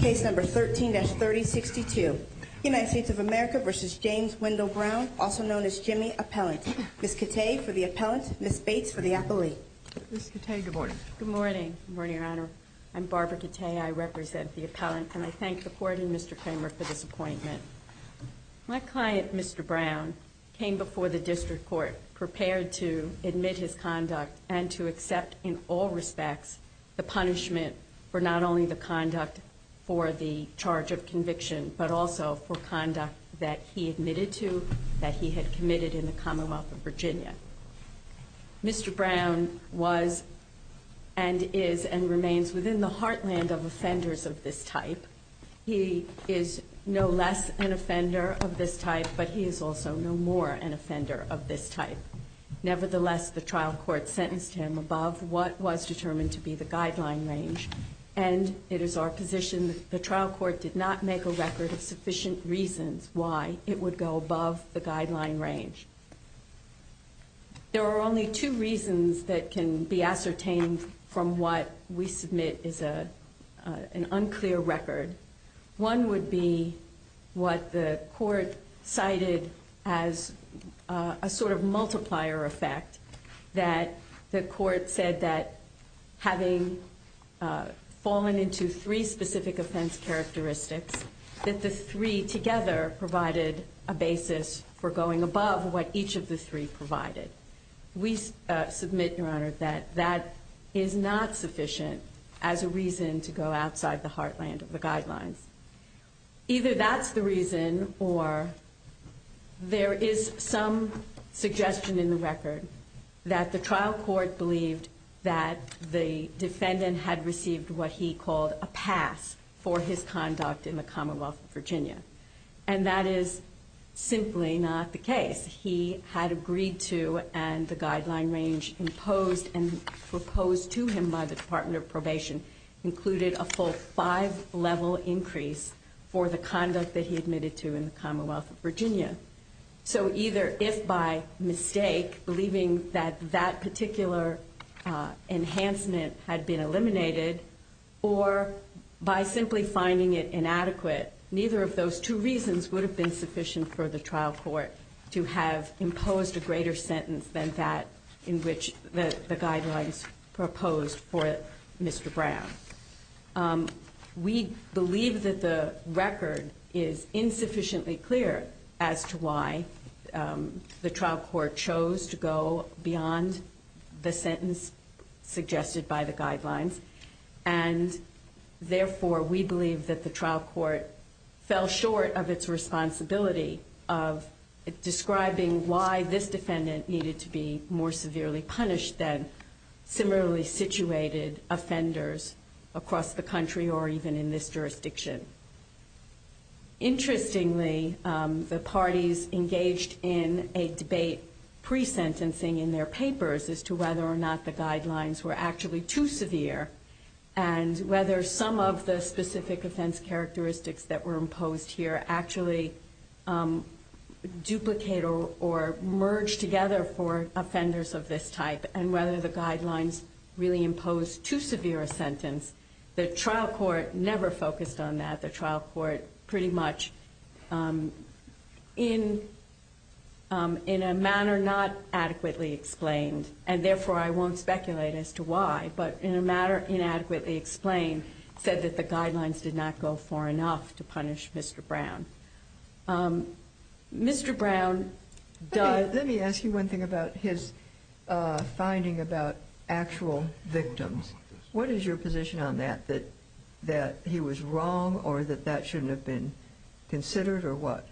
Ms. Cate, for the appellant. Ms. Bates, for the appellee. Ms. Cate, good morning. Good morning. Good morning, Your Honor. I'm Barbara Cate. I represent the appellant, and I thank the Court and Mr. Kramer for this appointment. My client, Mr. Brown, came before the District Court, prepared to admit his conduct and to accept, in all respects, the fact that Mr. Kramer is guilty. The punishment for not only the conduct for the charge of conviction, but also for conduct that he admitted to, that he had committed in the Commonwealth of Virginia. Mr. Brown was and is and remains within the heartland of offenders of this type. He is no less an offender of this type, but he is also no more an offender of this type. Nevertheless, the trial court sentenced him above what was determined to be the guideline range, and it is our position that the trial court did not make a record of sufficient reasons why it would go above the guideline range. There are only two reasons that can be ascertained from what we submit is an unclear record. One would be what the court cited as a sort of multiplier effect, that the court said that having fallen into three specific offense characteristics, that the three together provided a basis for going above what each of the three provided. We submit, Your Honor, that that is not sufficient as a reason to go outside the heartland of the guidelines. Either that's the reason, or there is some suggestion in the record that the trial court believed that the defendant had received what he called a pass for his conduct in the Commonwealth of Virginia. And that is simply not the case. He had agreed to and the guideline range imposed and proposed to him by the Department of Probation included a full five-level increase for the conduct that he admitted to in the Commonwealth of Virginia. So either if by mistake, believing that that particular enhancement had been eliminated, or by simply finding it inadequate, neither of those two reasons would have been sufficient for the trial court to have imposed a greater sentence than that in which the guidelines proposed for Mr. Brown. We believe that the record is insufficiently clear as to why the trial court chose to go beyond the sentence suggested by the guidelines. And therefore, we believe that the trial court fell short of its responsibility of describing why this defendant needed to be more severely punished than similarly situated offenders across the country or even in this jurisdiction. Interestingly, the parties engaged in a debate pre-sentencing in their papers as to whether or not the guidelines were actually too severe and whether some of the specific offense characteristics that were imposed here actually duplicate or merge together for offenders of this type and whether the guidelines really imposed too severe a sentence. The trial court never focused on that. The trial court pretty much, in a manner not adequately explained, and therefore I won't speculate as to why, but in a manner inadequately explained, said that the guidelines did not go far enough to punish Mr. Brown. Mr. Brown does... Let me ask you one thing about his finding about actual victims. What is your position on that, that he was wrong or that that shouldn't have been considered or what?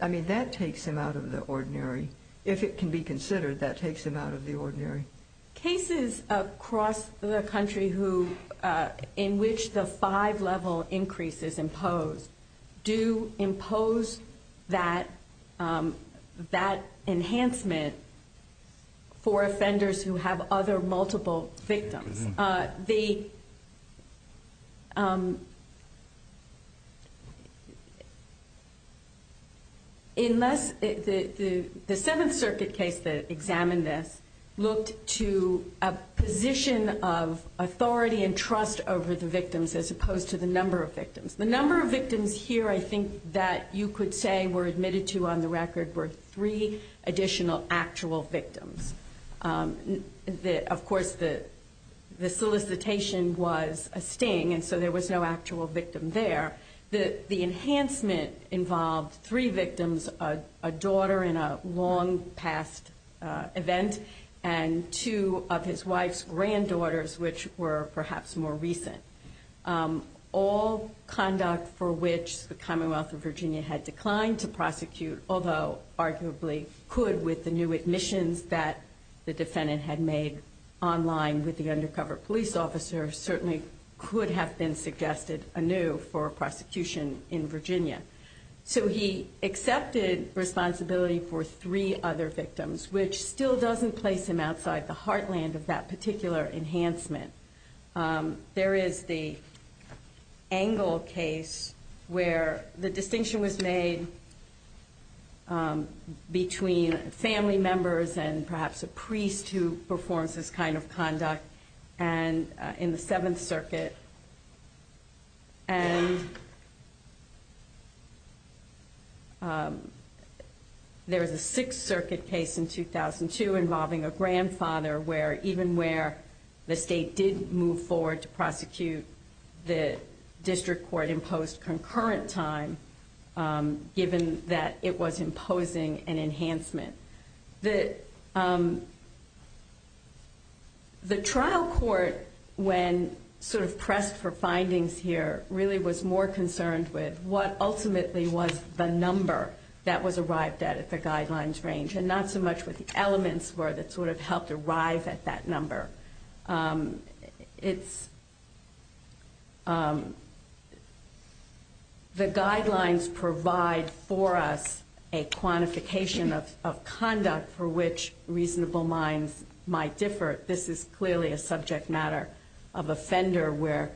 I mean, that takes him out of the ordinary. If it can be considered, that takes him out of the ordinary. Cases across the country in which the five-level increase is imposed do impose that enhancement for offenders who have other multiple victims. The Seventh Circuit case that examined this looked to a position of authority and trust over the victims as opposed to the number of victims. The number of victims here I think that you could say were admitted to on the record were three additional actual victims. Of course, the solicitation was a sting, and so there was no actual victim there. The enhancement involved three victims, a daughter in a long-past event and two of his wife's granddaughters, which were perhaps more recent. All conduct for which the Commonwealth of Virginia had declined to prosecute, although arguably could with the new admissions that the defendant had made online with the undercover police officer, certainly could have been suggested anew for prosecution in Virginia. So he accepted responsibility for three other victims, which still doesn't place him outside the heartland of that particular enhancement. There is the Angle case where the distinction was made between family members and perhaps a priest who performs this kind of conduct in the Seventh Circuit. And there was a Sixth Circuit case in 2002 involving a grandfather where even where the state did move forward to prosecute, the district court imposed concurrent time given that it was imposing an enhancement. The trial court, when sort of pressed for findings here, really was more concerned with what ultimately was the number that was arrived at at the guidelines range, and not so much what the elements were that sort of helped arrive at that number. The guidelines provide for us a quantification of conduct for which reasonable minds might differ. This is clearly a subject matter of offender where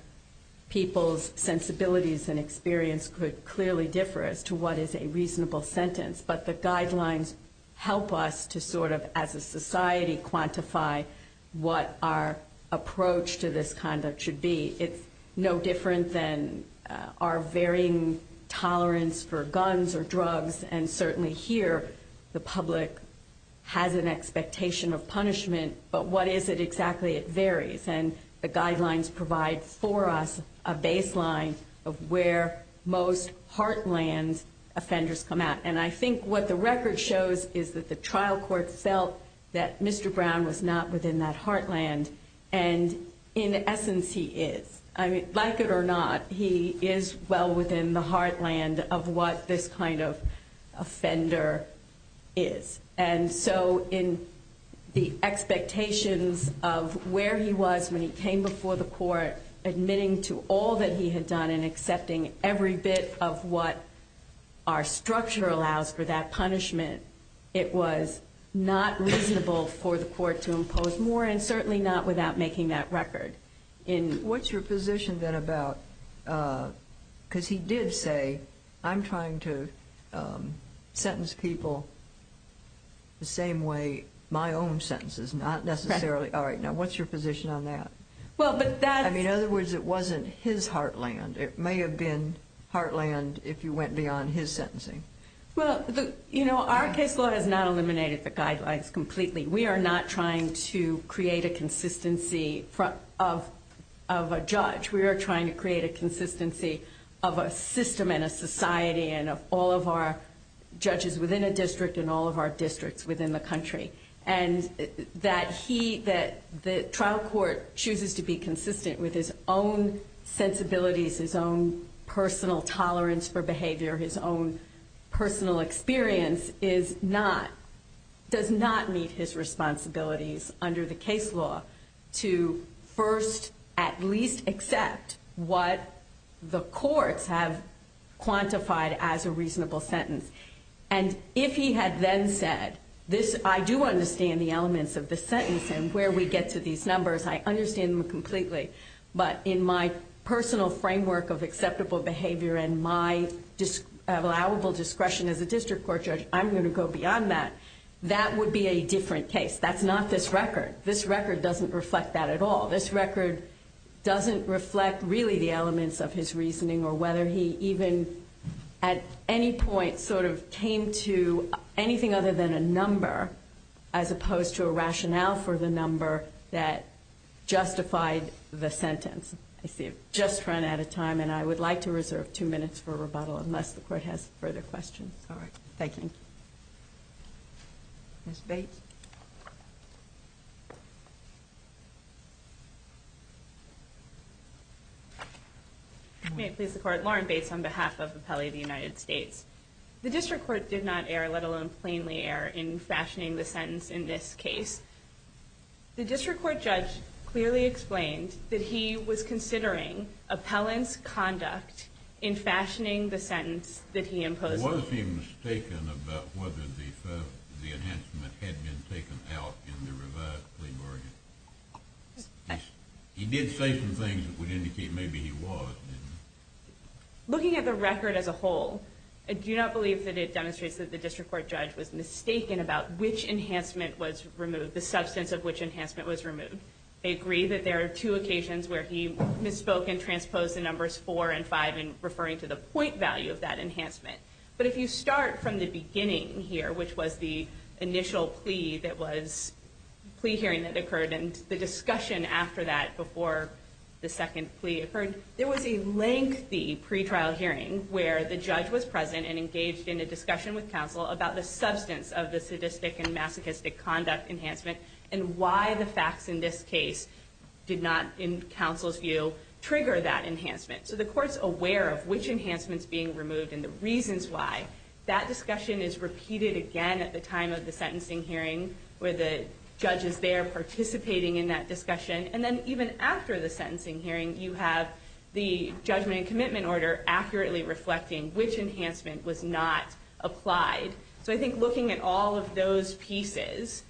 people's sensibilities and experience could clearly differ as to what is a reasonable sentence. But the guidelines help us to sort of, as a society, quantify what our approach to this kind of should be. It's no different than our varying tolerance for guns or drugs. And certainly here, the public has an expectation of punishment. But what is it exactly? It varies. And the guidelines provide for us a baseline of where most heartland offenders come out. And I think what the record shows is that the trial court felt that Mr. Brown was not within that heartland. And in essence, he is. Like it or not, he is well within the heartland of what this kind of offender is. And so in the expectations of where he was when he came before the court, admitting to all that he had done and accepting every bit of what our structure allows for that punishment, it was not reasonable for the court to impose more, and certainly not without making that record. What's your position then about, because he did say, I'm trying to sentence people the same way my own sentence is, not necessarily, all right, now what's your position on that? I mean, in other words, it wasn't his heartland. It may have been heartland if you went beyond his sentencing. Well, you know, our case law has not eliminated the guidelines completely. We are not trying to create a consistency of a judge. We are trying to create a consistency of a system and a society and of all of our judges within a district and all of our districts within the country. And that he, that the trial court chooses to be consistent with his own sensibilities, his own personal tolerance for behavior, his own personal experience, does not meet his responsibilities under the case law to first at least accept what the courts have quantified as a reasonable sentence. And if he had then said, I do understand the elements of the sentence and where we get to these numbers, I understand them completely, but in my personal framework of acceptable behavior and my allowable discretion as a district court judge, I'm going to go beyond that, that would be a different case. That's not this record. This record doesn't reflect that at all. This record doesn't reflect really the elements of his reasoning or whether he even at any point sort of came to anything other than a number as opposed to a rationale for the number that justified the sentence. I see I've just run out of time, and I would like to reserve two minutes for rebuttal unless the Court has further questions. All right. Thank you. Ms. Bates. May it please the Court. Lauren Bates on behalf of Appellee of the United States. The district court did not err, let alone plainly err, in fashioning the sentence in this case. The district court judge clearly explained that he was considering appellant's conduct in fashioning the sentence that he imposed. Was he mistaken about whether the enhancement had been taken out in the revised plea bargain? He did say some things that would indicate maybe he was, didn't he? Looking at the record as a whole, I do not believe that it demonstrates that the district court judge was mistaken about which enhancement was removed, the substance of which enhancement was removed. I agree that there are two occasions where he misspoke and transposed the numbers 4 and 5 in referring to the point value of that enhancement. But if you start from the beginning here, which was the initial plea hearing that occurred and the discussion after that before the second plea occurred, there was a lengthy pretrial hearing where the judge was present and engaged in a discussion with counsel about the substance of the sadistic and masochistic conduct enhancement and why the facts in this case did not, in counsel's view, trigger that enhancement. So the court's aware of which enhancement's being removed and the reasons why. That discussion is repeated again at the time of the sentencing hearing where the judge is there participating in that discussion. And then even after the sentencing hearing, you have the judgment and commitment order accurately reflecting which enhancement was not applied. So I think looking at all of those pieces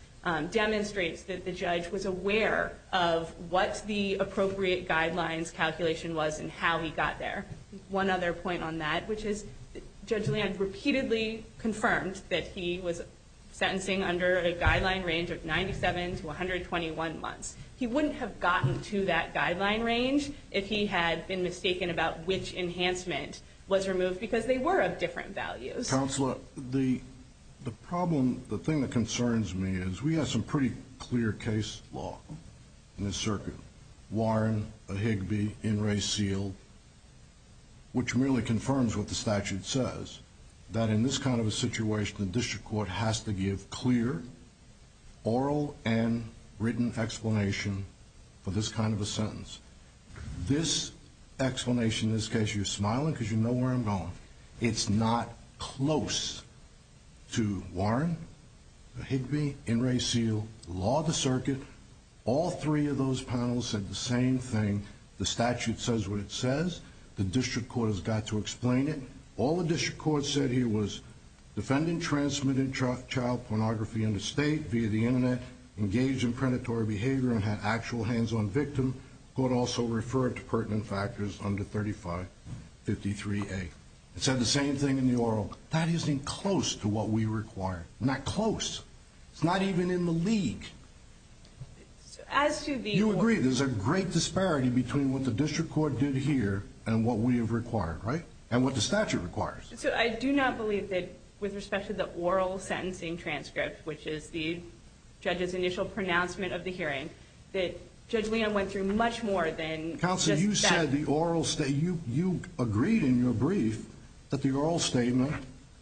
demonstrates that the judge was aware of what the appropriate guidelines calculation was and how he got there. One other point on that, which is Judge Land repeatedly confirmed that he was sentencing under a guideline range of 97 to 121 months. He wouldn't have gotten to that guideline range if he had been mistaken about which enhancement was removed because they were of different values. Counselor, the problem, the thing that concerns me is we have some pretty clear case law in this circuit. Warren, Ahigbe, Inres, Seale, which really confirms what the statute says, that in this kind of a situation the district court has to give clear oral and written explanation for this kind of a sentence. This explanation in this case, you're smiling because you know where I'm going, it's not close to Warren, Ahigbe, Inres, Seale, law of the circuit, all three of those panels said the same thing. The statute says what it says. The district court has got to explain it. All the district court said here was defendant transmitted child pornography in the state via the internet, engaged in predatory behavior and had actual hands-on victim. Court also referred to pertinent factors under 3553A. It said the same thing in the oral. That isn't even close to what we require. Not close. It's not even in the league. You agree there's a great disparity between what the district court did here and what we have required, right, and what the statute requires. I do not believe that with respect to the oral sentencing transcript, which is the judge's initial pronouncement of the hearing, that Judge Leon went through much more than just that. Counsel, you said the oral statement. You agreed in your brief that the oral statement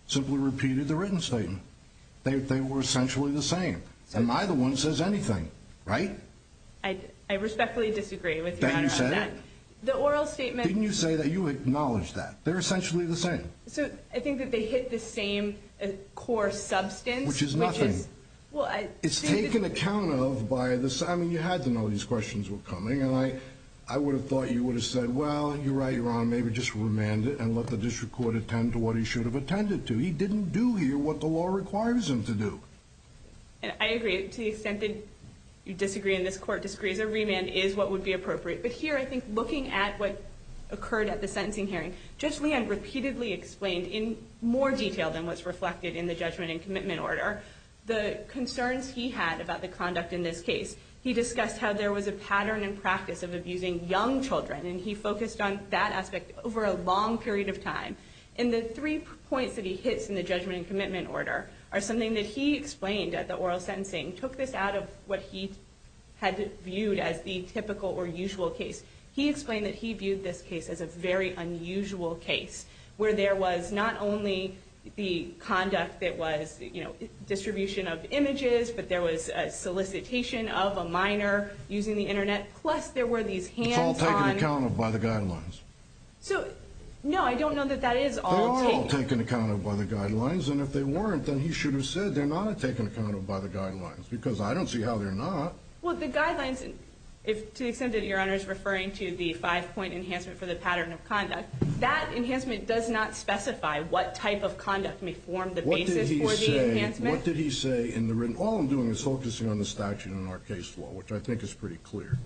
simply repeated the written statement. They were essentially the same. And neither one says anything, right? I respectfully disagree with you on that. Didn't you say that? The oral statement. Didn't you say that? You acknowledged that. They're essentially the same. So I think that they hit the same core substance. Which is nothing. It's taken account of by this. I mean, you had to know these questions were coming, and I would have thought you would have said, well, you're right, Your Honor, maybe just remand it and let the district court attend to what he should have attended to. He didn't do here what the law requires him to do. And I agree to the extent that you disagree and this court disagrees, a remand is what would be appropriate. But here I think looking at what occurred at the sentencing hearing, Judge Leon repeatedly explained in more detail than what's reflected in the judgment and commitment order the concerns he had about the conduct in this case. He discussed how there was a pattern and practice of abusing young children, and he focused on that aspect over a long period of time. And the three points that he hits in the judgment and commitment order are something that he explained at the oral sentencing, took this out of what he had viewed as the typical or usual case. He explained that he viewed this case as a very unusual case, where there was not only the conduct that was, you know, distribution of images, but there was solicitation of a minor using the Internet, plus there were these hands-on. It's all taken account of by the guidelines. So, no, I don't know that that is all taken. They're all taken account of by the guidelines, and if they weren't, then he should have said they're not taken account of by the guidelines, because I don't see how they're not. Well, the guidelines, to the extent that Your Honor is referring to the five-point enhancement for the pattern of conduct, that enhancement does not specify what type of conduct may form the basis for the enhancement. What did he say in the written? All I'm doing is focusing on the statute in our case law, which I think is pretty clear.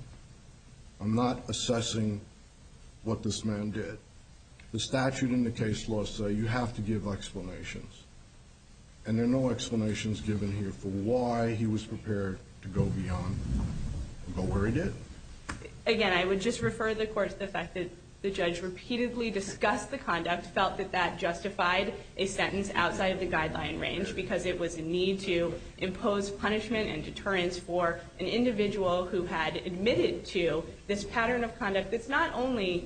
I'm not assessing what this man did. The statute and the case law say you have to give explanations, and there are no explanations given here for why he was prepared to go beyond and go where he did. Again, I would just refer the Court to the fact that the judge repeatedly discussed the conduct, felt that that justified a sentence outside of the guideline range because it was a need to impose punishment and deterrence for an individual who had admitted to this pattern of conduct that's not only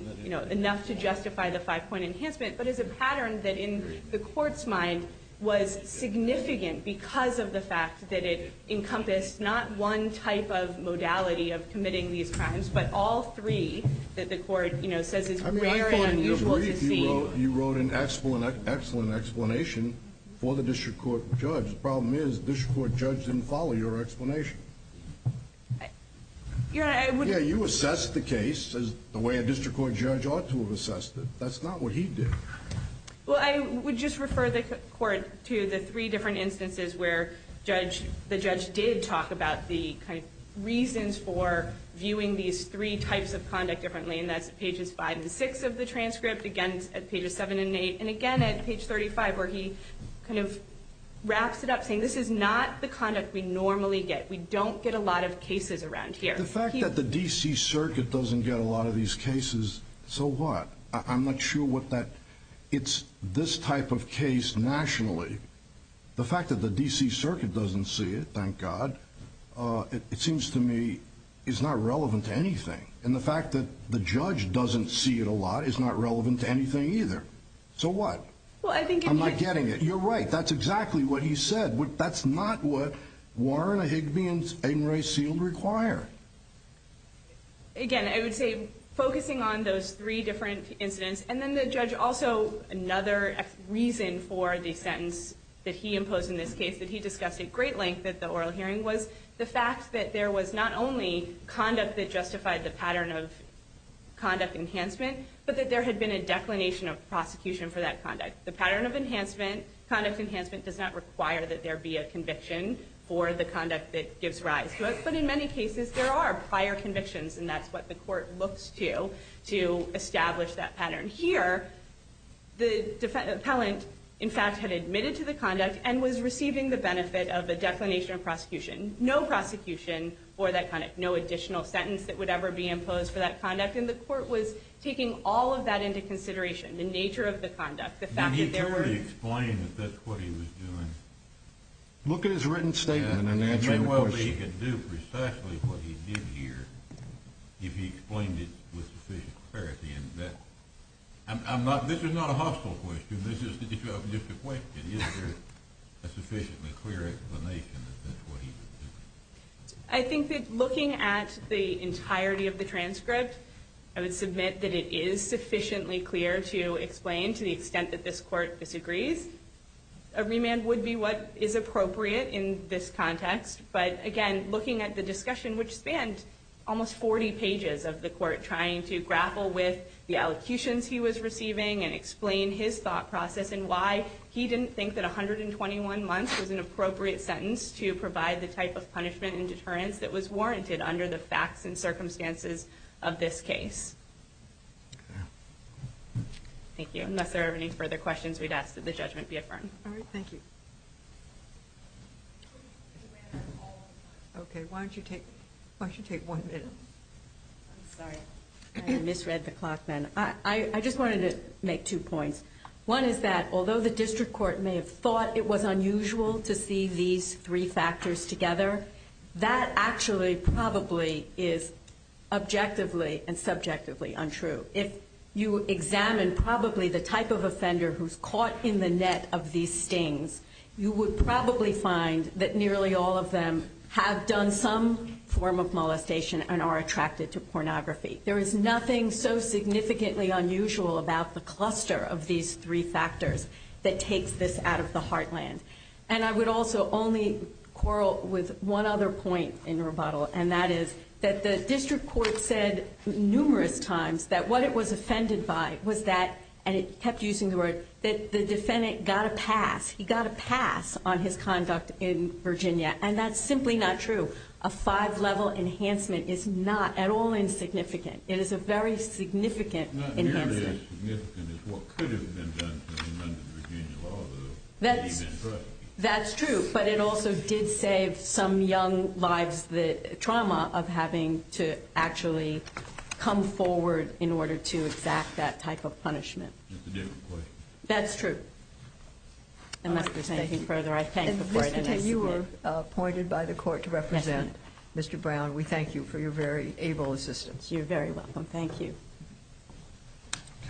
enough to justify the five-point enhancement, but is a pattern that in the Court's mind was significant because of the fact that it encompassed not one type of modality of committing these crimes, but all three that the Court says is rare and unusual to see. I mean, I thought in your brief you wrote an excellent explanation for the district court judge. The problem is the district court judge didn't follow your explanation. Yeah, you assessed the case the way a district court judge ought to have assessed it. That's not what he did. Well, I would just refer the Court to the three different instances where the judge did talk about the reasons for viewing these three types of conduct differently, and that's pages 5 and 6 of the transcript, again at pages 7 and 8, and again at page 35 where he kind of wraps it up saying this is not the conduct we normally get. We don't get a lot of cases around here. The fact that the D.C. Circuit doesn't get a lot of these cases, so what? I'm not sure what that, it's this type of case nationally. The fact that the D.C. Circuit doesn't see it, thank God, it seems to me is not relevant to anything. And the fact that the judge doesn't see it a lot is not relevant to anything either. So what? I'm not getting it. You're right. That's exactly what he said. That's not what Warren, Higbie, and Ray Seald require. Again, I would say focusing on those three different incidents, and then the judge also another reason for the sentence that he imposed in this case that he discussed at great length at the oral hearing was the fact that there was not only conduct that justified the pattern of conduct enhancement, but that there had been a declination of prosecution for that conduct. The pattern of conduct enhancement does not require that there be a conviction for the conduct that gives rise to it. But in many cases there are prior convictions, and that's what the court looks to to establish that pattern. Here, the appellant, in fact, had admitted to the conduct and was receiving the benefit of a declination of prosecution, no prosecution for that conduct, no additional sentence that would ever be imposed for that conduct. And the court was taking all of that into consideration, the nature of the conduct. Did he clearly explain that that's what he was doing? Look at his written statement and answer the question. It may well be he could do precisely what he did here if he explained it with sufficient clarity. This is not a hostile question. This is just a question. Is there a sufficiently clear explanation that that's what he was doing? I think that looking at the entirety of the transcript, I would submit that it is sufficiently clear to explain to the extent that this court disagrees. A remand would be what is appropriate in this context. But again, looking at the discussion, which spanned almost 40 pages of the court trying to grapple with the allocutions he was receiving and explain his thought process and why he didn't think that 121 months was an appropriate sentence to provide the type of punishment and deterrence that was warranted under the facts and circumstances of this case. Thank you. Unless there are any further questions, we'd ask that the judgment be affirmed. All right. Thank you. Okay. Why don't you take one minute? I'm sorry. I misread the clock, ma'am. I just wanted to make two points. One is that although the district court may have thought it was unusual to see these three factors together, that actually probably is objectively and subjectively untrue. If you examine probably the type of offender who's caught in the net of these stings, you would probably find that nearly all of them have done some form of molestation and are attracted to pornography. There is nothing so significantly unusual about the cluster of these three factors that takes this out of the heartland. And I would also only quarrel with one other point in rebuttal, and that is that the district court said numerous times that what it was offended by was that, and it kept using the word, that the defendant got a pass. He got a pass on his conduct in Virginia, and that's simply not true. A five-level enhancement is not at all insignificant. It is a very significant enhancement. What is significant is what could have been done to amend the Virginia law. That's true. But it also did save some young lives the trauma of having to actually come forward in order to exact that type of punishment. That's a different question. That's true. Unless there's anything further, I thank the court. Ms. Patel, you were appointed by the court to represent Mr. Brown. We thank you for your very able assistance. You're very welcome. Thank you.